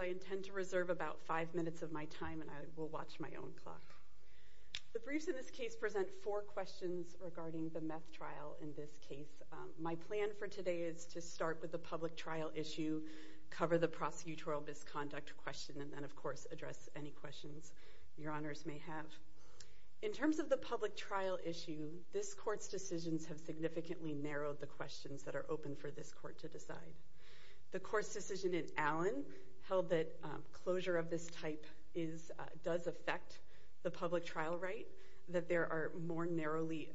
I intend to reserve about five minutes of my time and I will watch my own clock. The briefs in this case present four questions regarding the meth trial in this case. My plan for today is to start with the public trial issue, cover the prosecutorial misconduct question, and then of course address any questions your honors may have. In terms of the public trial issue, this court's decisions have significantly narrowed the questions that are open for this court to decide. The court's decision in Allen held that closure of this type does affect the public trial right, that there are more narrowly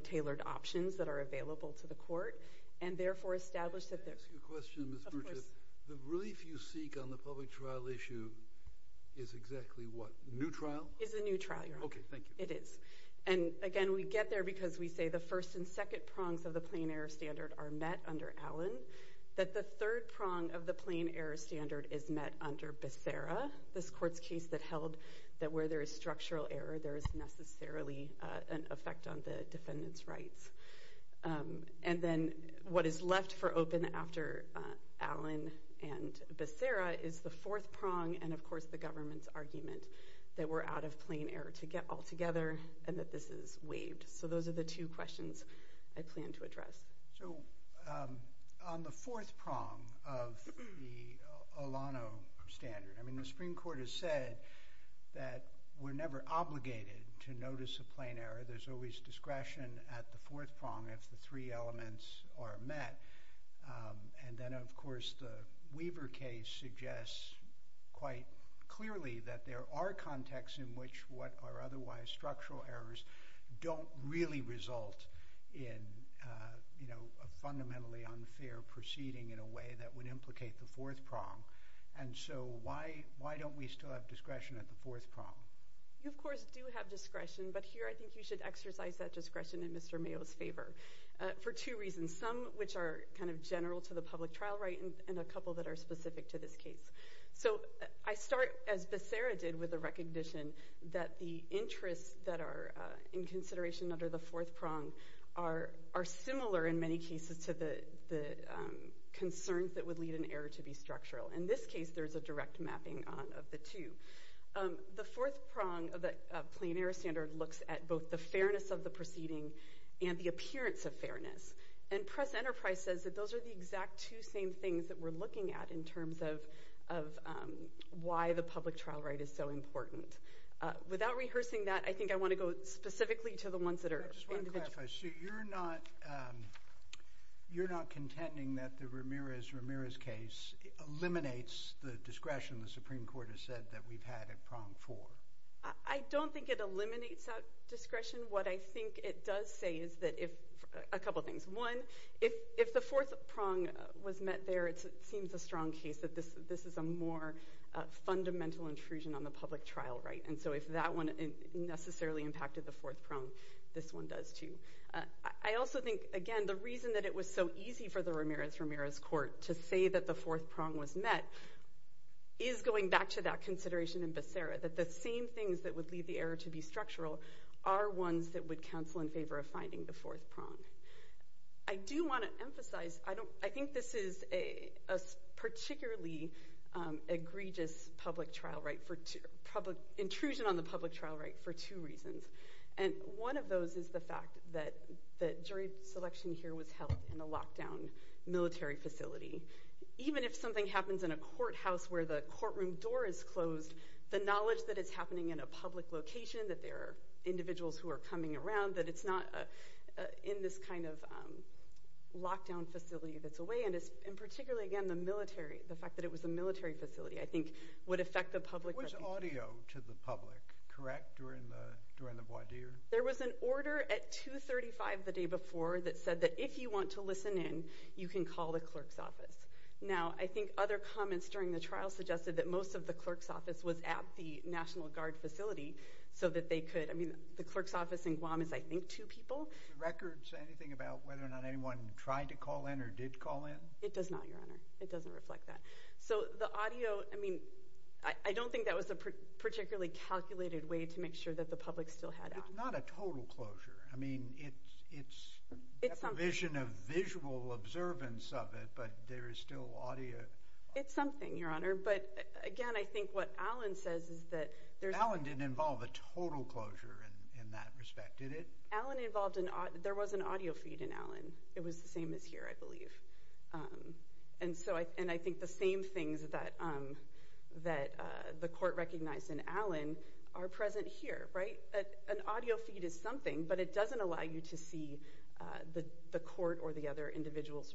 tailored options that are available to the court, and that the first and second prongs of the plain error standard are met under Allen, that the third prong of the plain error standard is met under Becerra, this court's case that held that where there is structural error there is necessarily an effect on the defendant's rights. And then what is left for open after Allen and Becerra is the fourth prong and of course the government's argument that we're out of plain error altogether and that this is waived. So those are the two questions I plan to address. So on the fourth prong of the Olano standard, I mean the Supreme Court has said that we're never obligated to notice a plain error, there's always discretion at the fourth prong if the three elements are met, and then of course the Weaver case suggests quite clearly that there are contexts in which what are otherwise structural errors don't really result in a fundamentally unfair proceeding in a way that would implicate the fourth prong. And so why don't we still have discretion at the fourth prong? You of course do have discretion but here I think you should exercise that discretion in Mr. Mayo's favor for two reasons, some which are kind of general to the public trial right and a couple that are specific to this case. So I start as Becerra did with the recognition that the interests that are in consideration under the fourth prong are similar in many cases to the concerns that would lead an error to be structural. In this case there's a direct mapping of the two. The fourth prong of the plain error standard looks at both the fairness of the proceeding and the appearance of fairness. And Press Enterprise says that those are the exact two same things that we're looking at in terms of why the public trial right is so important. Without rehearsing that I think I want to go specifically to the ones that are individual. So you're not contending that the Ramirez-Ramirez case eliminates the discretion the Supreme Court has said that we've had at prong four? I don't think it eliminates that discretion. What I think it does say is that if, a couple things, one, if the fourth prong was met there it seems a strong case that this is a more fundamental intrusion on the public trial right. And so if that one necessarily impacted the fourth prong, this one does too. I also think, again, the reason that it was so easy for the Ramirez-Ramirez court to say that the fourth prong was met is going back to that consideration in Becerra. That the same things that would lead the error to be structural are ones that would counsel in favor of finding the fourth prong. I do want to emphasize, I think this is a particularly egregious public trial right for public, intrusion on the public trial right for two reasons. And one of those is the fact that jury selection here was held in a locked down military facility. Even if something happens in a courthouse where the courtroom door is closed, the knowledge that it's happening in a public location, that there are individuals who are coming around, that it's not in this kind of locked down facility that's away, and particularly again the military, the fact that it was a military facility, I think would affect the public reputation. It was audio to the public, correct, during the voir dire? There was an order at 235 the day before that said that if you want to listen in, you can call the clerk's office. Now, I think other comments during the trial suggested that most of the clerk's office was at the National Guard facility so that they could, I mean, the clerk's office in Guam is, I think, two people. Do the records say anything about whether or not anyone tried to call in or did call in? It does not, Your Honor. It doesn't reflect that. So, the audio, I mean, I don't think that was a particularly calculated way to make sure that the public still had access. It's not a total closure. I mean, it's a provision of visual observance of it, but there is still audio. It's something, Your Honor, but again, I think what Allen says is that there's... Allen didn't involve a total closure in that respect, did it? Allen involved... There was an audio feed in Allen. It was the same as here, I believe. And so, I think the same things that the court recognized in Allen are present here, right? An audio feed is something, but it doesn't allow you to see the court or the other individual's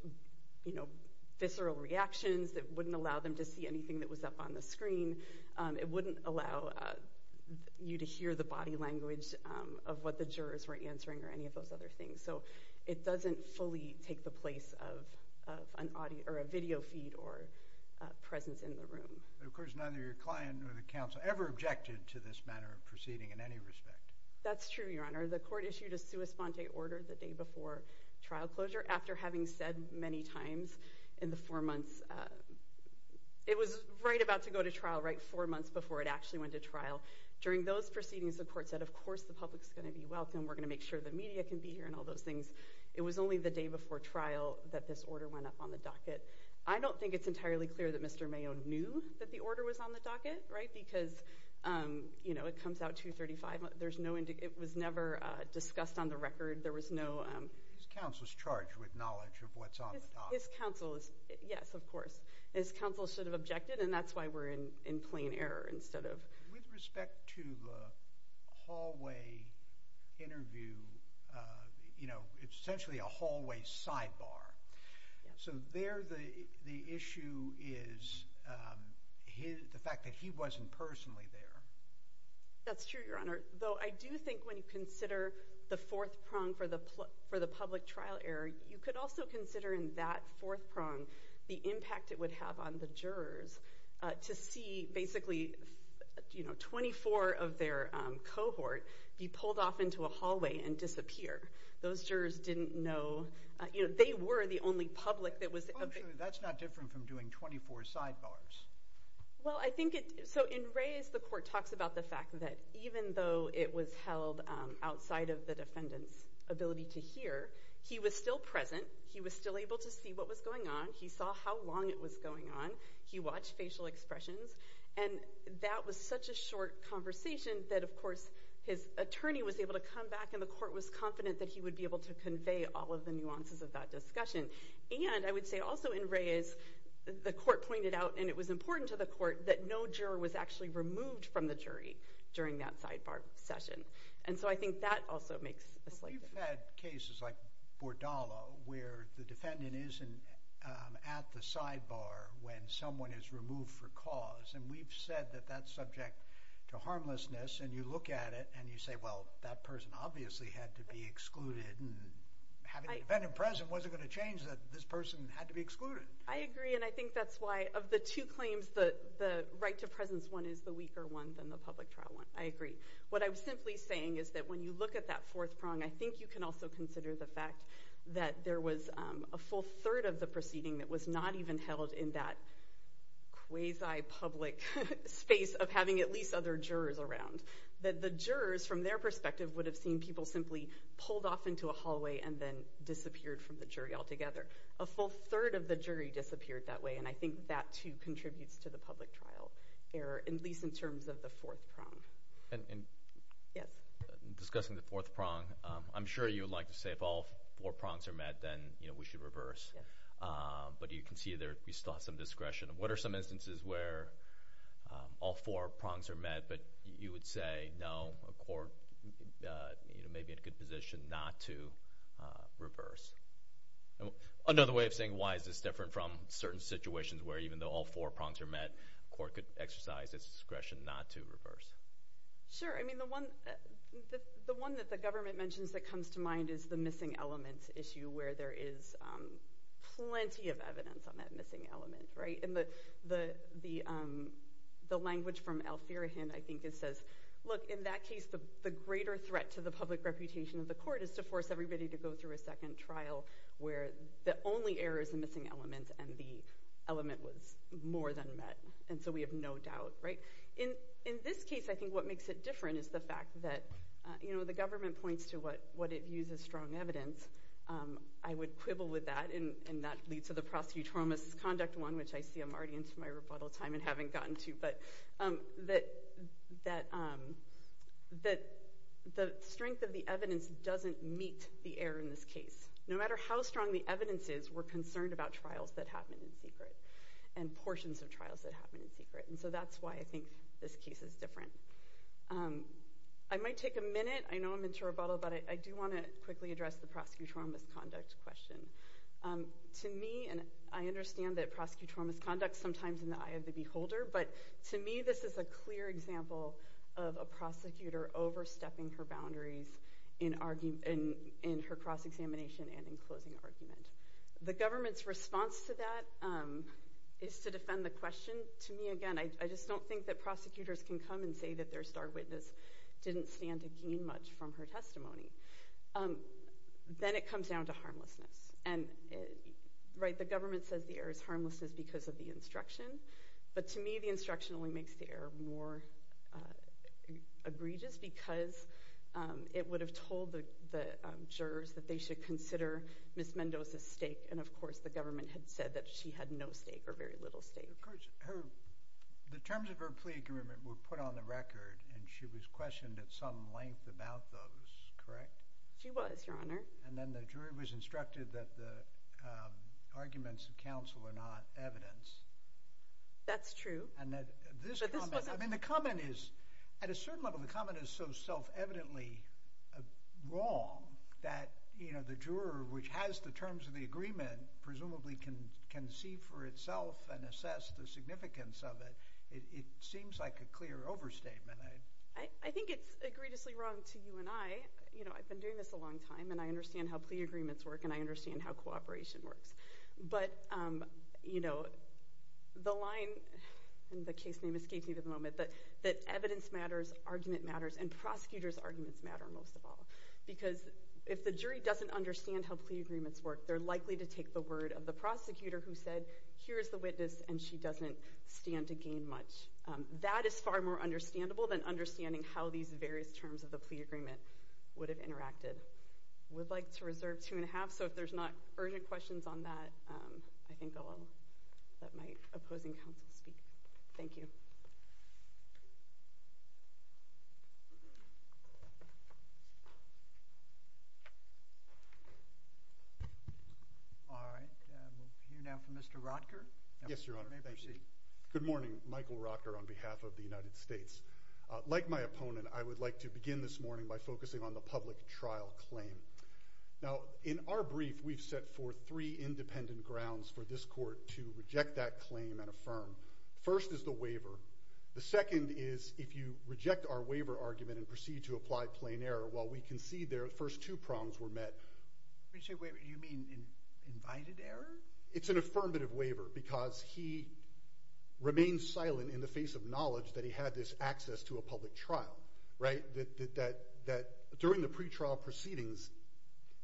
visceral reactions. It wouldn't allow them to see anything that was up on the screen. It wouldn't allow you to hear the body language of what the jurors were answering or any of those other things. So, it doesn't fully take the place of a video feed or presence in the room. Of course, neither your client nor the counsel ever objected to this manner of proceeding in any respect. That's true, Your Honor. The court issued a sua sponte order the day before trial closure after having said many times in the four months... It was right about to go to trial, right? Four months before it actually went to trial. During those proceedings, the court said, of course, the public's gonna be welcome. We're gonna make sure the media can be here and all those things. It was only the day before trial that this order went up on the docket. I don't think it's entirely clear that Mr. Mayo knew that the order was on the docket, right? Because, you know, it comes out 235. There's no... It was never discussed on the record. There was no... His counsel's charged with knowledge of what's on the docket. His counsel is... Yes, of course. His counsel should have objected, and that's why we're in plain error instead of... With respect to the hallway interview, you know, it's essentially a hallway sidebar. So there the issue is the fact that he wasn't personally there. That's true, Your Honor. Though I do think when you consider the fourth prong for the public trial error, you could also consider in that fourth prong the impact it would have on the jurors to see, basically, you know, 24 of their cohort be pulled off into a hallway and disappear. Those jurors didn't know... You know, they were the only public that was... That's not different from doing 24 sidebars. Well, I think it... So in Reyes, the court talks about the fact that even though it was held outside of the defendant's ability to hear, he was still present. He was still able to see what was going on. He saw how long it was going on. He watched facial expressions. And that was such a short conversation that, of course, his attorney was able to come back and the court was confident that he would be able to convey all of the nuances of that discussion. And I would say also in Reyes, the court pointed out, and it was important to the court, that no juror was actually removed from the jury during that sidebar session. And so I think that also makes a slight difference. We've had cases like Bordallo where the defendant isn't at the sidebar when someone is removed for cause. And we've said that that's subject to harmlessness. And you look at it and you say, well, that person obviously had to be excluded. And having a defendant present wasn't going to change that this person had to be excluded. I agree. And I think that's why of the two claims, the right to presence one is the weaker one than the public trial one. I agree. What I'm simply saying is that when you look at that fourth prong, I think you can also consider the fact that there was a full third of the proceeding that was not even held in that quasi-public space of having at least other jurors around. The jurors, from their perspective, would have seen people simply pulled off into a hallway and then disappeared from the jury altogether. A full third of the jury disappeared that way. And I think that, too, contributes to the public trial error, at least in terms of the fourth prong. Yes? Discussing the fourth prong, I'm sure you would like to say if all four prongs are met, then we should reverse. Yes. But you can see there, we still have some discretion. What are some instances where all four prongs are met, but you would say, no, a court may be in a good position not to reverse? Another way of saying why is this different from certain situations where even though all four prongs are met, a court could exercise its discretion not to reverse? Sure. I mean, the one that the government mentions that comes to mind is the missing elements issue where there is plenty of evidence on that missing element. The language from Al-Firahin, I think it says, look, in that case, the greater threat to the public reputation of the court is to force everybody to go through a second trial where the only error is the missing element and the element was more than met. And so we have no doubt. In this case, I think what makes it different is the fact that the government points to what it views as strong evidence. I would quibble with that, and that leads to the prosecutorial misconduct one, which I see I'm already into my rebuttal time and haven't gotten to, but that the strength of the evidence doesn't meet the error in this case. No matter how strong the evidence is, we're concerned about trials that happen in secret and portions of trials that happen in secret. And so that's why I think this case is different. I might take a minute. I know I'm into rebuttal, but I do want to quickly address the prosecutorial misconduct question. To me, and I understand that prosecutorial misconduct sometimes in the eye of the beholder, but to me, this is a clear example of a prosecutor overstepping her boundaries in her cross-examination and in closing argument. The government's response to that is to defend the question. To me, again, I just don't think that prosecutors can come and say that their star witness didn't stand to gain much from her testimony. Then it comes down to harmlessness. The government says the error is harmlessness because of the instruction, but to me, the instruction only makes the error more egregious because it would have told the jurors that they should consider Ms. Mendoza's stake, and of course, the government had said that she had no stake or very little stake. Of course, the terms of her plea agreement were put on the record, and she was questioned at some length about those, correct? She was, Your Honor. Then the jury was instructed that the arguments of counsel are not evidence. That's true. I mean, the comment is, at a certain level, the comment is so self-evidently wrong that the juror which has the terms of the agreement presumably can see for itself and assess the significance of it. It seems like a clear overstatement. I think it's egregiously wrong to you and I. I've been doing this a long time, and I understand how plea agreements work, and I understand how cooperation works, but the line, and the case name escapes me for the moment, but that evidence matters, argument matters, and prosecutors' arguments matter most of all because if the jury doesn't understand how plea agreements work, they're likely to take the word of the prosecutor who said, here's the witness, and she doesn't stand to gain much. That is far more understandable than understanding how these various terms of the plea agreement would have interacted. I would like to reserve two and a half, so if there's not urgent questions on that, I think I'll let my opposing counsel speak. Thank you. All right. We'll hear now from Mr. Rotker. Yes, Your Honor. Thank you. You may proceed. Good morning. Michael Rotker on behalf of the United States. Like my opponent, I would like to begin this morning by focusing on the public trial claim. Now, in our brief, we've set forth three independent grounds for this court to reject that claim The eighth is the fact that it's not a plea. The ninth is the fact that it's not a plea. The second is if you reject our waiver argument and proceed to apply plain error, while we concede their first two prongs were met. When you say waiver, do you mean invited error? It's an affirmative waiver because he remained silent in the face of knowledge that he had this access to a public trial, right? That during the pretrial proceedings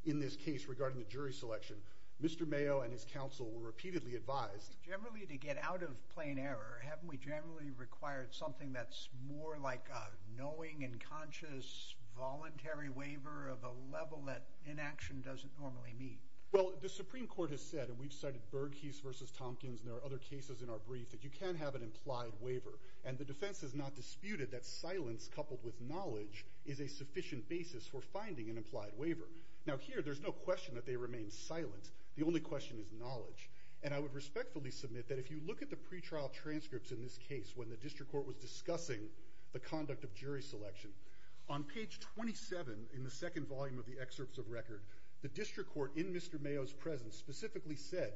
in this case regarding the jury selection, Mr. Mayo and his counsel were repeatedly advised. Generally, to get out of plain error, haven't we generally required something that's more like a knowing and conscious voluntary waiver of a level that inaction doesn't normally mean? Well, the Supreme Court has said, and we've cited Bergke's versus Tompkins, and there are other cases in our brief that you can have an implied waiver, and the defense has not disputed that silence coupled with knowledge is a sufficient basis for finding an implied waiver. Now, here, there's no question that they remain silent. The only question is knowledge. And I would respectfully submit that if you look at the pretrial transcripts in this case when the district court was discussing the conduct of jury selection, on page 27 in the second volume of the excerpts of record, the district court in Mr. Mayo's presence specifically said,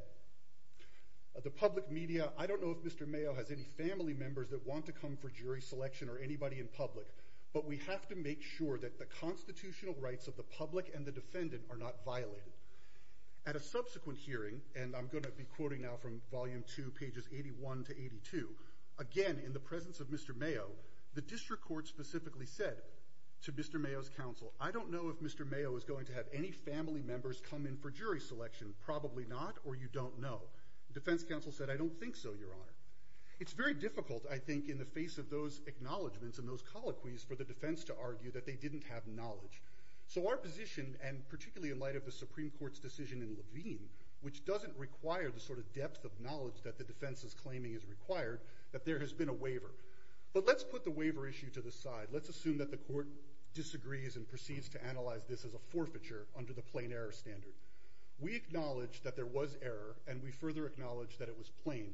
the public media, I don't know if Mr. Mayo has any family members that want to come for jury selection or anybody in public, but we have to make sure that the constitutional rights of the public and the defendant are not violated. At a subsequent hearing, and I'm going to be quoting now from volume two, pages 81 to 82, again, in the presence of Mr. Mayo, the district court specifically said to Mr. Mayo's counsel, I don't know if Mr. Mayo is going to have any family members come in for jury selection, probably not, or you don't know. The defense counsel said, I don't think so, Your Honor. It's very difficult, I think, in the face of those acknowledgments and those colloquies for the defense to argue that they didn't have knowledge. So our position, and particularly in light of the Supreme Court's decision in Levine, which doesn't require the sort of depth of knowledge that the defense is claiming is required, that there has been a waiver. But let's put the waiver issue to the side. Let's assume that the court disagrees and proceeds to analyze this as a forfeiture under the plain error standard. We acknowledge that there was error, and we further acknowledge that it was plain.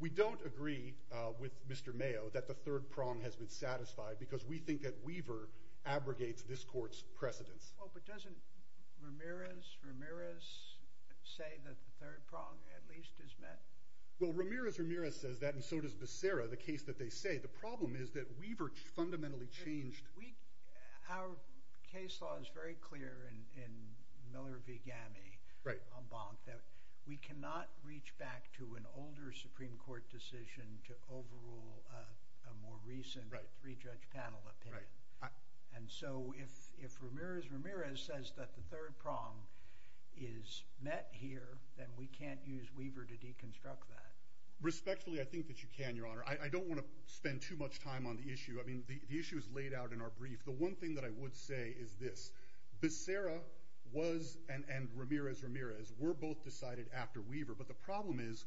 We don't agree with Mr. Mayo that the third prong has been satisfied because we think that waiver abrogates this court's precedence. Well, but doesn't Ramirez, Ramirez say that the third prong at least is met? Well, Ramirez, Ramirez says that, and so does Becerra, the case that they say. The problem is that waiver fundamentally changed. Our case law is very clear in Miller v. Gammie on Bonk that we cannot reach back to an older Supreme Court decision to overrule a more recent three-judge panel opinion. And so if Ramirez, Ramirez says that the third prong is met here, then we can't use waiver to deconstruct that. Respectfully, I think that you can, Your Honor. I don't want to spend too much time on the issue. I mean, the issue is laid out in our brief. The one thing that I would say is this. Becerra was, and Ramirez, Ramirez, were both decided after Weaver. But the problem is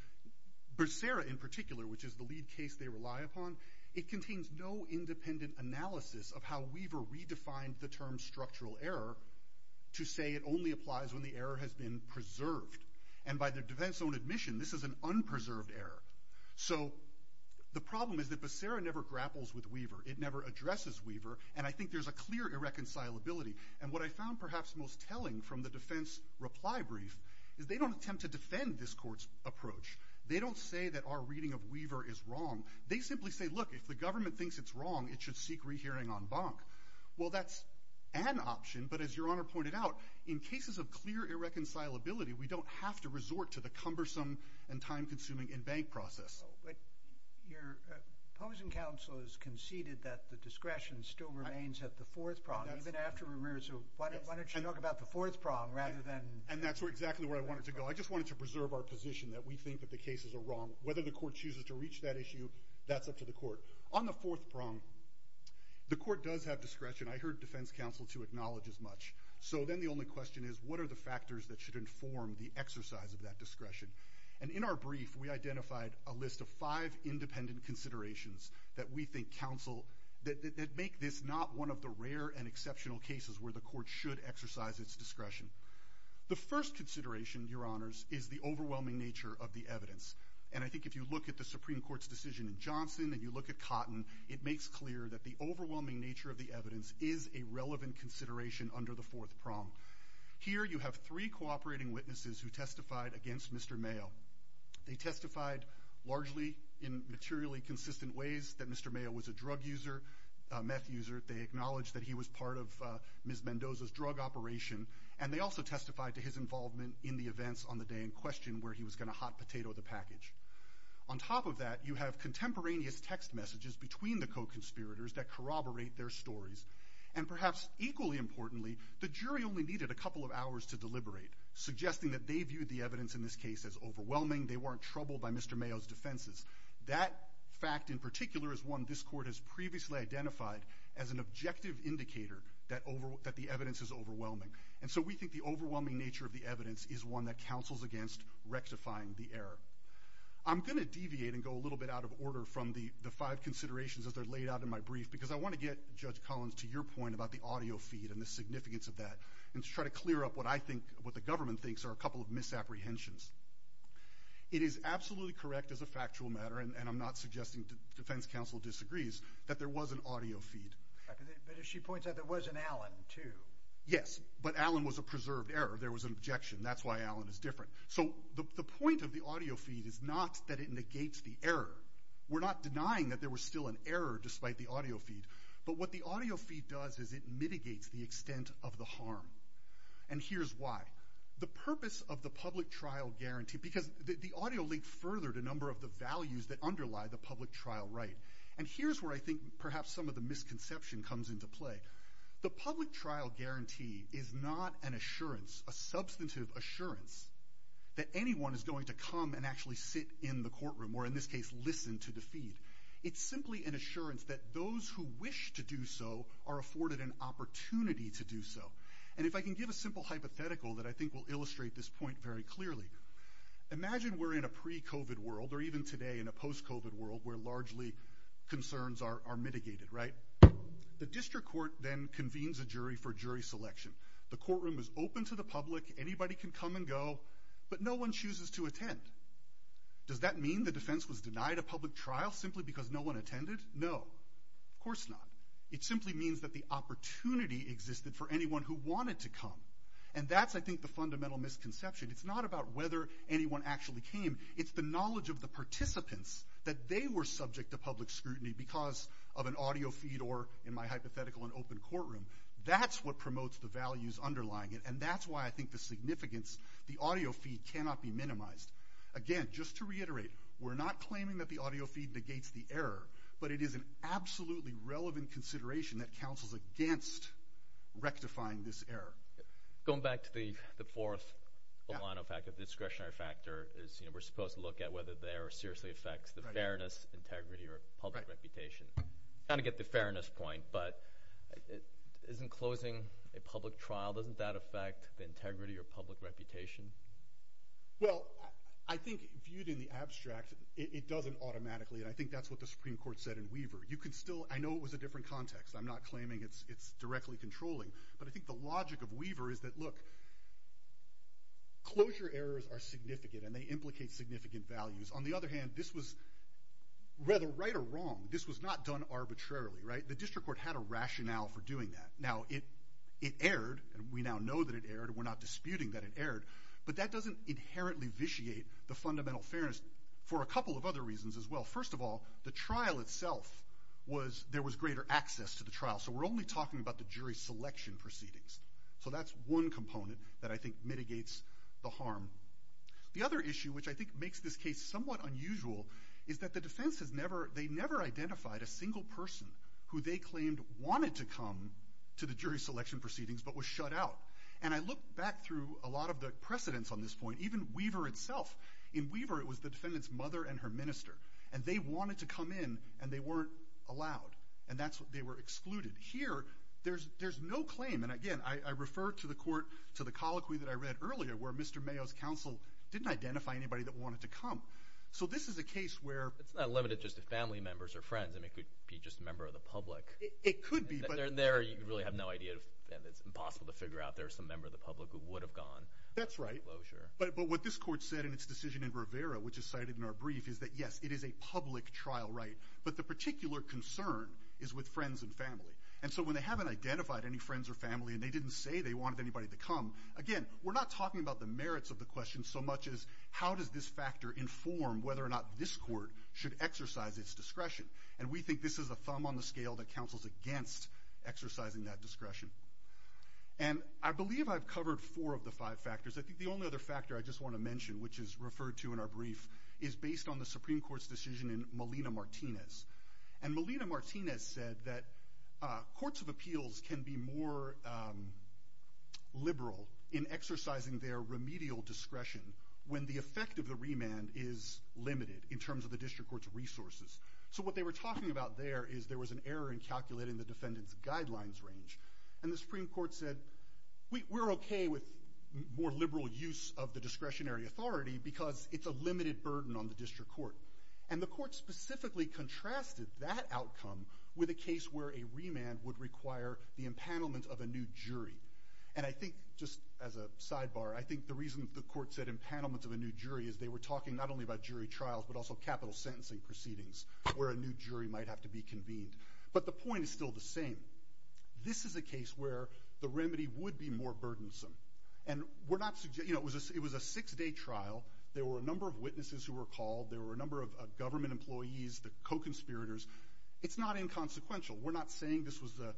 Becerra in particular, which is the lead case they rely upon, it contains no independent analysis of how Weaver redefined the term structural error to say it only applies when the error has been preserved. And by the defense's own admission, this is an unpreserved error. So the problem is that Becerra never grapples with Weaver. It never addresses Weaver. And I think there's a clear irreconcilability. And what I found perhaps most telling from the defense reply brief is they don't attempt to defend this court's approach. They don't say that our reading of Weaver is wrong. They simply say, look, if the government thinks it's wrong, it should seek rehearing en banc. Well, that's an option. But as Your Honor pointed out, in cases of clear irreconcilability, we don't have to resort to the cumbersome and time-consuming en banc process. But your opposing counsel has conceded that the discretion still remains at the fourth prong, even after Ramirez. So why don't you talk about the fourth prong rather than— And that's exactly where I wanted to go. I just wanted to preserve our position that we think that the cases are wrong. Whether the court chooses to reach that issue, that's up to the court. On the fourth prong, the court does have discretion. I heard defense counsel to acknowledge as much. So then the only question is, what are the factors that should inform the exercise of that discretion? And in our brief, we identified a list of five independent considerations that we think counsel—that make this not one of the rare and exceptional cases where the court should exercise its discretion. The first consideration, Your Honors, is the overwhelming nature of the evidence. And I think if you look at the Supreme Court's decision in Johnson and you look at Cotton, it makes clear that the overwhelming nature of the evidence is a relevant consideration under the fourth prong. Here, you have three cooperating witnesses who testified against Mr. Mayo. They testified largely in materially consistent ways that Mr. Mayo was a drug user, a meth user. They acknowledged that he was part of Ms. Mendoza's drug operation. And they also testified to his involvement in the events on the day in question where he was going to hot potato the package. On top of that, you have contemporaneous text messages between the co-conspirators that corroborate their stories. And perhaps equally importantly, the jury only needed a couple of hours to deliberate, suggesting that they viewed the evidence in this case as overwhelming, they weren't troubled by Mr. Mayo's defenses. That fact in particular is one this court has previously identified as an objective indicator that the evidence is overwhelming. And so we think the overwhelming nature of the evidence is one that counsels against rectifying the error. I'm going to deviate and go a little bit out of order from the five considerations as they're laid out in my brief because I want to get, Judge Collins, to your point about the audio feed and the significance of that and to try to clear up what I think what the government thinks are a couple of misapprehensions. It is absolutely correct as a factual matter, and I'm not suggesting defense counsel disagrees, that there was an audio feed. But if she points out there was an Allen too. Yes, but Allen was a preserved error. There was an objection. That's why Allen is different. So the point of the audio feed is not that it negates the error. We're not denying that there was still an error despite the audio feed, but what the audio feed does is it mitigates the extent of the harm. And here's why. The purpose of the public trial guarantee, because the audio linked further to a number of the values that underlie the public trial right. And here's where I think perhaps some of the misconception comes into play. The public trial guarantee is not an assurance, a substantive assurance that anyone is going to come and actually sit in the courtroom or in this case, listen to the feed. It's simply an assurance that those who wish to do so are afforded an opportunity to do so. And if I can give a simple hypothetical that I think will illustrate this point very clearly. Imagine we're in a pre-COVID world or even today in a post-COVID world where largely concerns are mitigated, right? The district court then convenes a jury for jury selection. The courtroom is open to the public. Anybody can come and go, but no one chooses to attend. Does that mean the defense was denied a public trial simply because no one attended? No, of course not. It simply means that the opportunity existed for anyone who wanted to come. And that's, I think, the fundamental misconception. It's not about whether anyone actually came. It's the knowledge of the participants that they were subject to public scrutiny because of an audio feed or, in my hypothetical, an open courtroom. That's what promotes the values underlying it, and that's why I think the significance, the audio feed, cannot be minimized. Again, just to reiterate, we're not claiming that the audio feed negates the error, but it is an absolutely relevant consideration that counsels against rectifying this error. Going back to the fourth line of fact, the discretionary factor, we're supposed to look at whether the error seriously affects the fairness, integrity, or public reputation. Kind of get the fairness point, but isn't closing a public trial, doesn't that affect the integrity or public reputation? Well, I think viewed in the abstract, it doesn't automatically, and I think that's what the Supreme Court said in Weaver. I know it was a different context. I'm not claiming it's directly controlling, but I think the logic of Weaver is that, look, closure errors are significant, and they implicate significant values. On the other hand, this was rather right or wrong. This was not done arbitrarily. The district court had a rationale for doing that. Now, it erred, and we now know that it erred. We're not disputing that it erred, but that doesn't inherently vitiate the fundamental fairness for a couple of other reasons as well. First of all, the trial itself was, there was greater access to the trial, so we're only talking about the jury selection proceedings. So that's one component that I think mitigates the harm. The other issue, which I think makes this case somewhat unusual, is that the defense has never, they never identified a single person who they claimed wanted to come to the jury selection proceedings, but was shut out. And I look back through a lot of the precedents on this point, even Weaver itself. In Weaver, it was the defendant's mother and her minister. And they wanted to come in, and they weren't allowed. And that's what, they were excluded. Here, there's no claim, and again, I refer to the court, to the colloquy that I read earlier, where Mr. Mayo's counsel didn't identify anybody that wanted to come. So this is a case where... It's not limited just to family members or friends. I mean, it could be just a member of the public. It could be, but... There, you really have no idea, and it's impossible to figure out if there was some member of the public who would have gone. That's right. Well, sure. But what this court said in its decision in Rivera, which is cited in our brief, is that yes, it is a public trial right. But the particular concern is with friends and family. And so when they haven't identified any friends or family, and they didn't say they wanted anybody to come, again, we're not talking about the merits of the question so much as how does this factor inform whether or not this court should exercise its discretion. And we think this is a thumb on the scale that counsels against exercising that discretion. And I believe I've covered four of the five factors. I think the only other factor I just want to mention, which is referred to in our brief, is based on the Supreme Court's decision in Molina-Martinez. And Molina-Martinez said that courts of appeals can be more liberal in exercising their remedial discretion when the effect of the remand is limited in terms of the district court's resources. So what they were talking about there is there was an error in calculating the defendant's guidelines range. And the Supreme Court said, we're okay with more liberal use of the discretionary authority because it's a limited burden on the district court. And the court specifically contrasted that outcome with a case where a remand would require the empanelment of a new jury. And I think just as a sidebar, I think the reason the court said empanelment of a new jury is they were talking not only about jury trials but also capital sentencing proceedings where a new jury might have to be convened. But the point is still the same. This is a case where the remedy would be more burdensome. And it was a six-day trial. There were a number of witnesses who were called. There were a number of government employees, the co-conspirators. It's not inconsequential. We're not saying this was a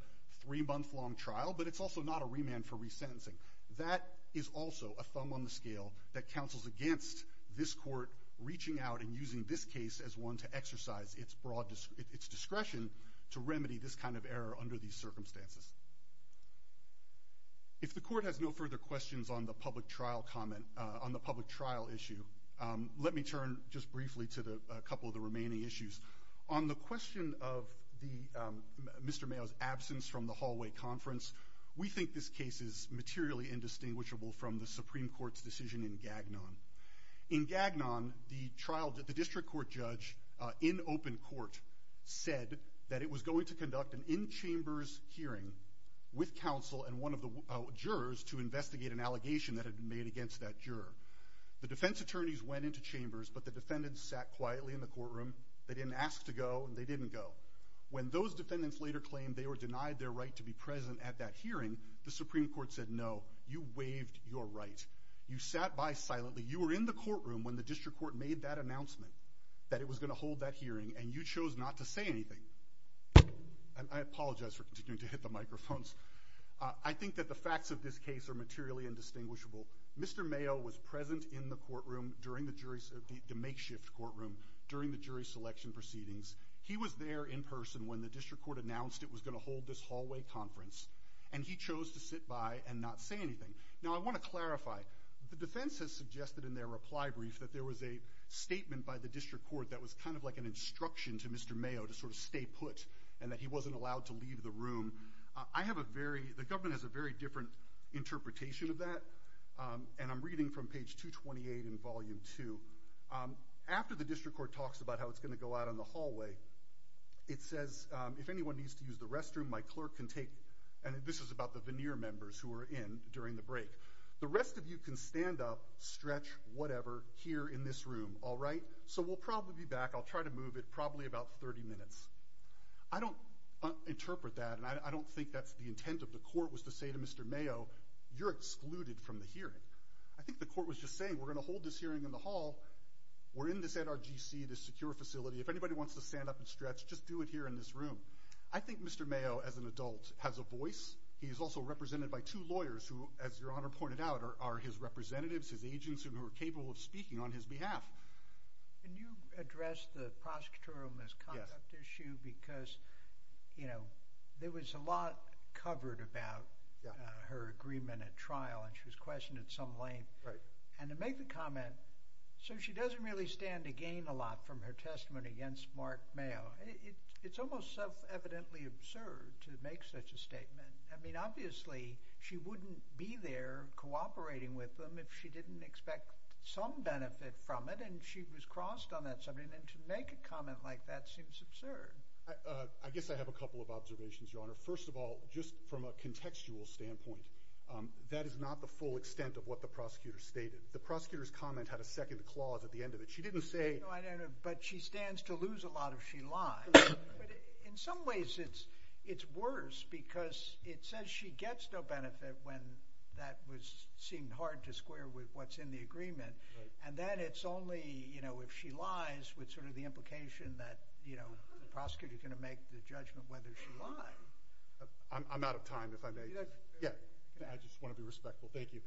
three-month-long trial, but it's also not a remand for resentencing. That is also a thumb on the scale that counsels against this court reaching out and using this case as one to exercise its discretion to remedy this kind of error under these circumstances. If the court has no further questions on the public trial issue, let me turn just briefly to a couple of the remaining issues. On the question of Mr. Mayo's absence from the hallway conference, we think this case is materially indistinguishable from the Supreme Court's decision in Gagnon. In Gagnon, the district court judge in open court said that it was going to hold a chambers hearing with counsel and one of the jurors to investigate an allegation that had been made against that juror. The defense attorneys went into chambers, but the defendants sat quietly in the courtroom. They didn't ask to go, and they didn't go. When those defendants later claimed they were denied their right to be present at that hearing, the Supreme Court said, no, you waived your right. You sat by silently. You were in the courtroom when the district court made that announcement, that it was going to hold that hearing, and you chose not to say anything. I apologize for continuing to hit the microphones. I think that the facts of this case are materially indistinguishable. Mr. Mayo was present in the courtroom, the makeshift courtroom, during the jury selection proceedings. He was there in person when the district court announced it was going to hold this hallway conference, and he chose to sit by and not say anything. Now, I want to clarify, the defense has suggested in their reply brief that there was a statement by the district court that was kind of like an instruction to Mr. May put, and that he wasn't allowed to leave the room. I have a very, the government has a very different interpretation of that, and I'm reading from page 228 in volume two. After the district court talks about how it's going to go out in the hallway, it says, if anyone needs to use the restroom, my clerk can take, and this is about the veneer members who were in during the break, the rest of you can stand up, stretch, whatever, here in this room, all right? So we'll probably be back. I'll try to move it probably about 30 minutes. I don't interpret that, and I don't think that's the intent of the court was to say to Mr. Mayo, you're excluded from the hearing. I think the court was just saying, we're going to hold this hearing in the hall. We're in this NRGC, this secure facility. If anybody wants to stand up and stretch, just do it here in this room. I think Mr. Mayo, as an adult, has a voice. He is also represented by two lawyers who, as Your Honor pointed out, are his representatives, his agents who are capable of speaking on his behalf. Can you address the prosecutorial misconduct issue? Yes. Because there was a lot covered about her agreement at trial, and she was questioned at some length. Right. And to make the comment, so she doesn't really stand to gain a lot from her testimony against Mark Mayo, it's almost self-evidently absurd to make such a statement. I mean, obviously, she wouldn't be there cooperating with them if she didn't expect some benefit from it. And she was crossed on that subject. And to make a comment like that seems absurd. I guess I have a couple of observations, Your Honor. First of all, just from a contextual standpoint, that is not the full extent of what the prosecutor stated. The prosecutor's comment had a second clause at the end of it. She didn't say— No, I know. But she stands to lose a lot if she lies. But in some ways, it's worse because it says she gets no benefit when that was—seemed hard to square with what's in the agreement. Right. And then it's only, you know, if she lies with sort of the implication that, you know, the prosecutor's going to make the judgment whether she lied. I'm out of time, if I may. Yeah. I just want to be respectful. Thank you.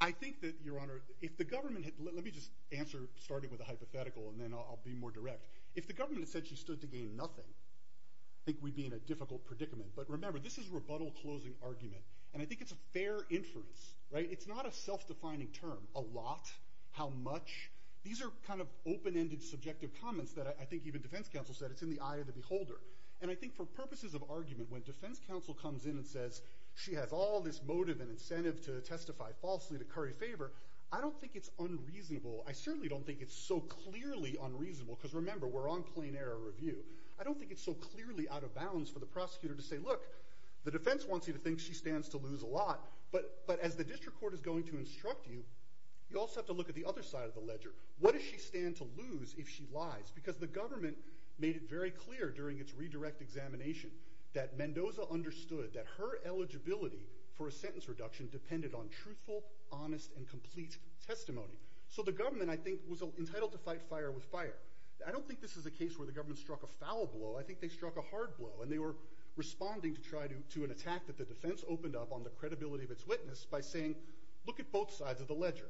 I think that, Your Honor, if the government had—let me just answer starting with a hypothetical, and then I'll be more direct. If the government had said she stood to gain nothing, I think we'd be in a difficult predicament. But remember, this is a rebuttal-closing argument. And I think it's a fair inference, right? It's not a self-defining term. A lot? How much? These are kind of open-ended, subjective comments that I think even defense counsel said it's in the eye of the beholder. And I think for purposes of argument, when defense counsel comes in and says she has all this motive and incentive to testify falsely to curry favor, I don't think it's unreasonable. I certainly don't think it's so clearly unreasonable because, remember, we're on plain-error review. I don't think it's so clearly out of bounds for the prosecutor to say, look, the defense wants you to think she stands to lose a lot, but as the district court is going to instruct you, you also have to look at the other side of the ledger. What does she stand to lose if she lies? Because the government made it very clear during its redirect examination that Mendoza understood that her eligibility for a sentence reduction depended on truthful, honest, and complete testimony. So the government, I think, was entitled to fight fire with fire. I don't think this is a case where the government struck a foul blow. I think they struck a hard blow, and they were responding to an attack that the defense opened up on the credibility of its witness by saying, look at both sides of the ledger.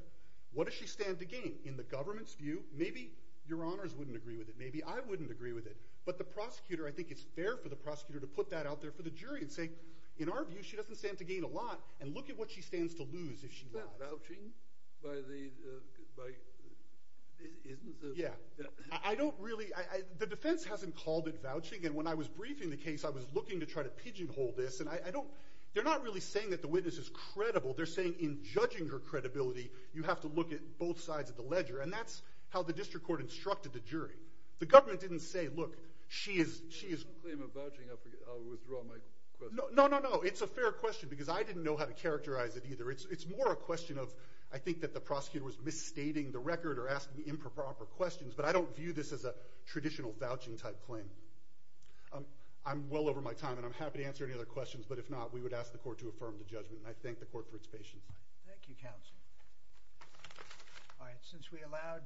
What does she stand to gain? In the government's view, maybe your honors wouldn't agree with it. Maybe I wouldn't agree with it. But the prosecutor, I think it's fair for the prosecutor to put that out there for the jury and say, in our view, she doesn't stand to gain a lot, and look at what she stands to lose if she lies. Is that vouching? Yeah. I don't really – the defense hasn't called it vouching. And when I was briefing the case, I was looking to try to pigeonhole this. And I don't – they're not really saying that the witness is credible. They're saying in judging her credibility, you have to look at both sides of the ledger. And that's how the district court instructed the jury. The government didn't say, look, she is – If you claim a vouching, I'll withdraw my question. No, no, no. It's a fair question because I didn't know how to characterize it either. It's more a question of I think that the prosecutor was misstating the record or asking improper questions. But I don't view this as a traditional vouching-type claim. I'm well over my time, and I'm happy to answer any other questions. But if not, we would ask the court to affirm the judgment. And I thank the court for its patience. Thank you, counsel. All right. Since we allowed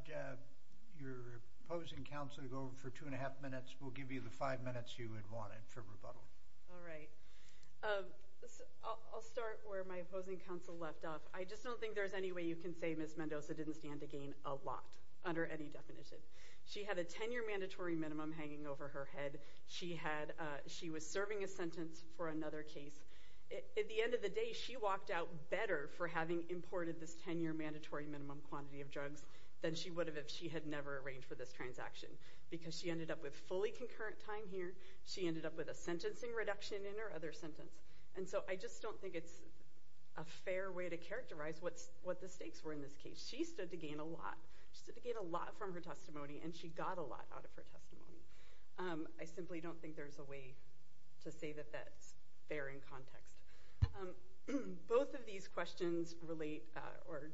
your opposing counsel to go for two and a half minutes, we'll give you the five minutes you had wanted for rebuttal. All right. I'll start where my opposing counsel left off. I just don't think there's any way you can say Ms. Mendoza didn't stand to gain a lot under any definition. She had a 10-year mandatory minimum hanging over her head. She was serving a sentence for another case. At the end of the day, she walked out better for having imported this 10-year mandatory minimum quantity of drugs than she would have if she had never arranged for this transaction because she ended up with fully concurrent time here. She ended up with a sentencing reduction in her other sentence. And so I just don't think it's a fair way to characterize what the stakes were in this case. She stood to gain a lot. She stood to gain a lot from her testimony, and she got a lot out of her testimony. I simply don't think there's a way to say that that's fair in context. Both of these questions relate or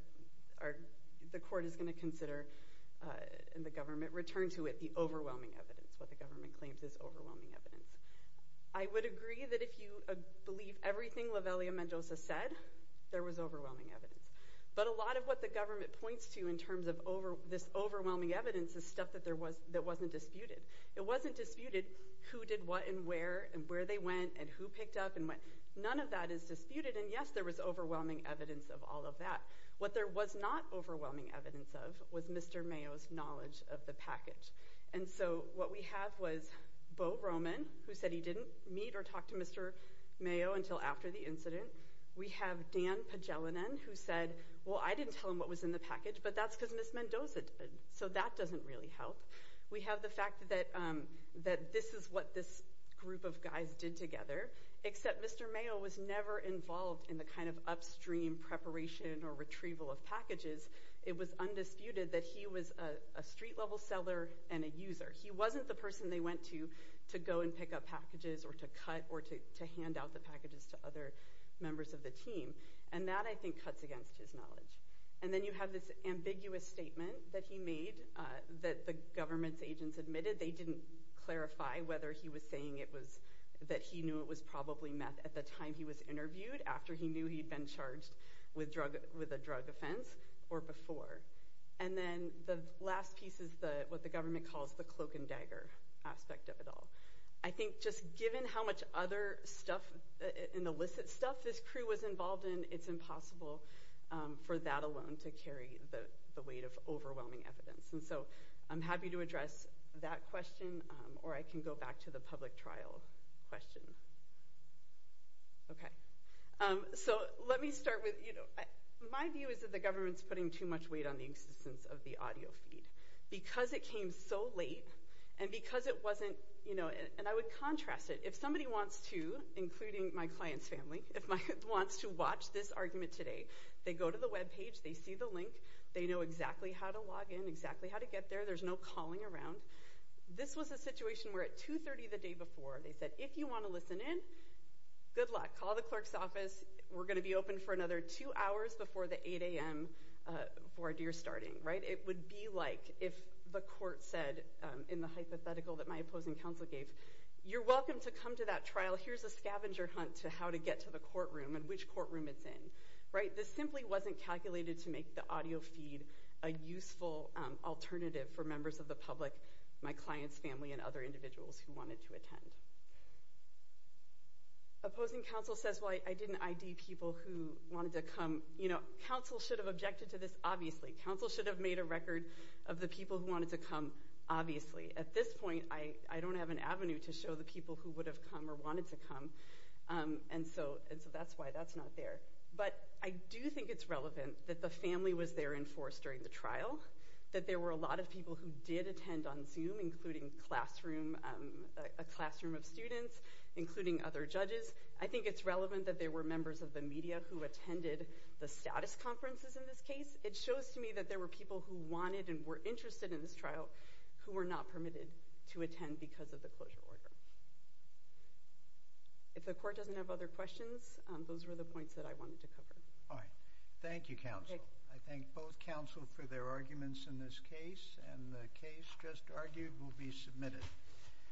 the court is going to consider and the government return to it the overwhelming evidence, what the government claims is overwhelming evidence. I would agree that if you believe everything Lavellia-Mendoza said, there was overwhelming evidence. But a lot of what the government points to in terms of this overwhelming evidence is stuff that wasn't disputed. It wasn't disputed who did what and where and where they went and who picked up and went. None of that is disputed, and yes, there was overwhelming evidence of all of that. What there was not overwhelming evidence of was Mr. Mayo's knowledge of the package. And so what we have was Beau Roman, who said he didn't meet or talk to Mr. Mayo until after the incident. We have Dan Pagelanen, who said, well, I didn't tell him what was in the package, but that's because Ms. Mendoza did, so that doesn't really help. We have the fact that this is what this group of guys did together, except Mr. Mayo was never involved in the kind of upstream preparation or retrieval of packages. It was undisputed that he was a street-level seller and a user. He wasn't the person they went to to go and pick up packages or to cut or to hand out the packages to other members of the team. And that, I think, cuts against his knowledge. And then you have this ambiguous statement that he made that the government's agents admitted they didn't clarify whether he was saying that he knew it was probably meth at the time he was interviewed, after he knew he'd been charged with a drug offense or before. And then the last piece is what the government calls the cloak-and-dagger aspect of it all. I think just given how much other stuff and illicit stuff this crew was involved in, it's impossible for that alone to carry the weight of overwhelming evidence. And so I'm happy to address that question, or I can go back to the public trial question. Okay. So let me start with, you know, my view is that the government's putting too much weight on the existence of the audio feed. Because it came so late, and because it wasn't, you know, and I would contrast it. If somebody wants to, including my client's family, if my client wants to watch this argument today, they go to the web page, they see the link, they know exactly how to log in, exactly how to get there, there's no calling around. This was a situation where at 2.30 the day before, they said, if you want to listen in, good luck. Call the clerk's office. We're going to be open for another two hours before the 8 a.m. voir dire starting, right? It would be like if the court said, in the hypothetical that my opposing counsel gave, you're welcome to come to that trial. Here's a scavenger hunt to how to get to the courtroom and which courtroom it's in, right? This simply wasn't calculated to make the audio feed a useful alternative for members of the public, my client's family and other individuals who wanted to attend. Opposing counsel says, well, I didn't ID people who wanted to come. You know, counsel should have objected to this obviously. Counsel should have made a record of the people who wanted to come obviously. At this point, I don't have an avenue to show the people who would have come or wanted to come, and so that's why that's not there. But I do think it's relevant that the family was there in force during the trial, that there were a lot of people who did attend on Zoom, including a classroom of students, including other judges. I think it's relevant that there were members of the media who attended the status conferences in this case. It shows to me that there were people who wanted and were interested in this trial who were not permitted to attend because of the closure order. If the court doesn't have other questions, those were the points that I wanted to cover. All right. Thank you, counsel. I thank both counsel for their arguments in this case, and the case just argued will be submitted.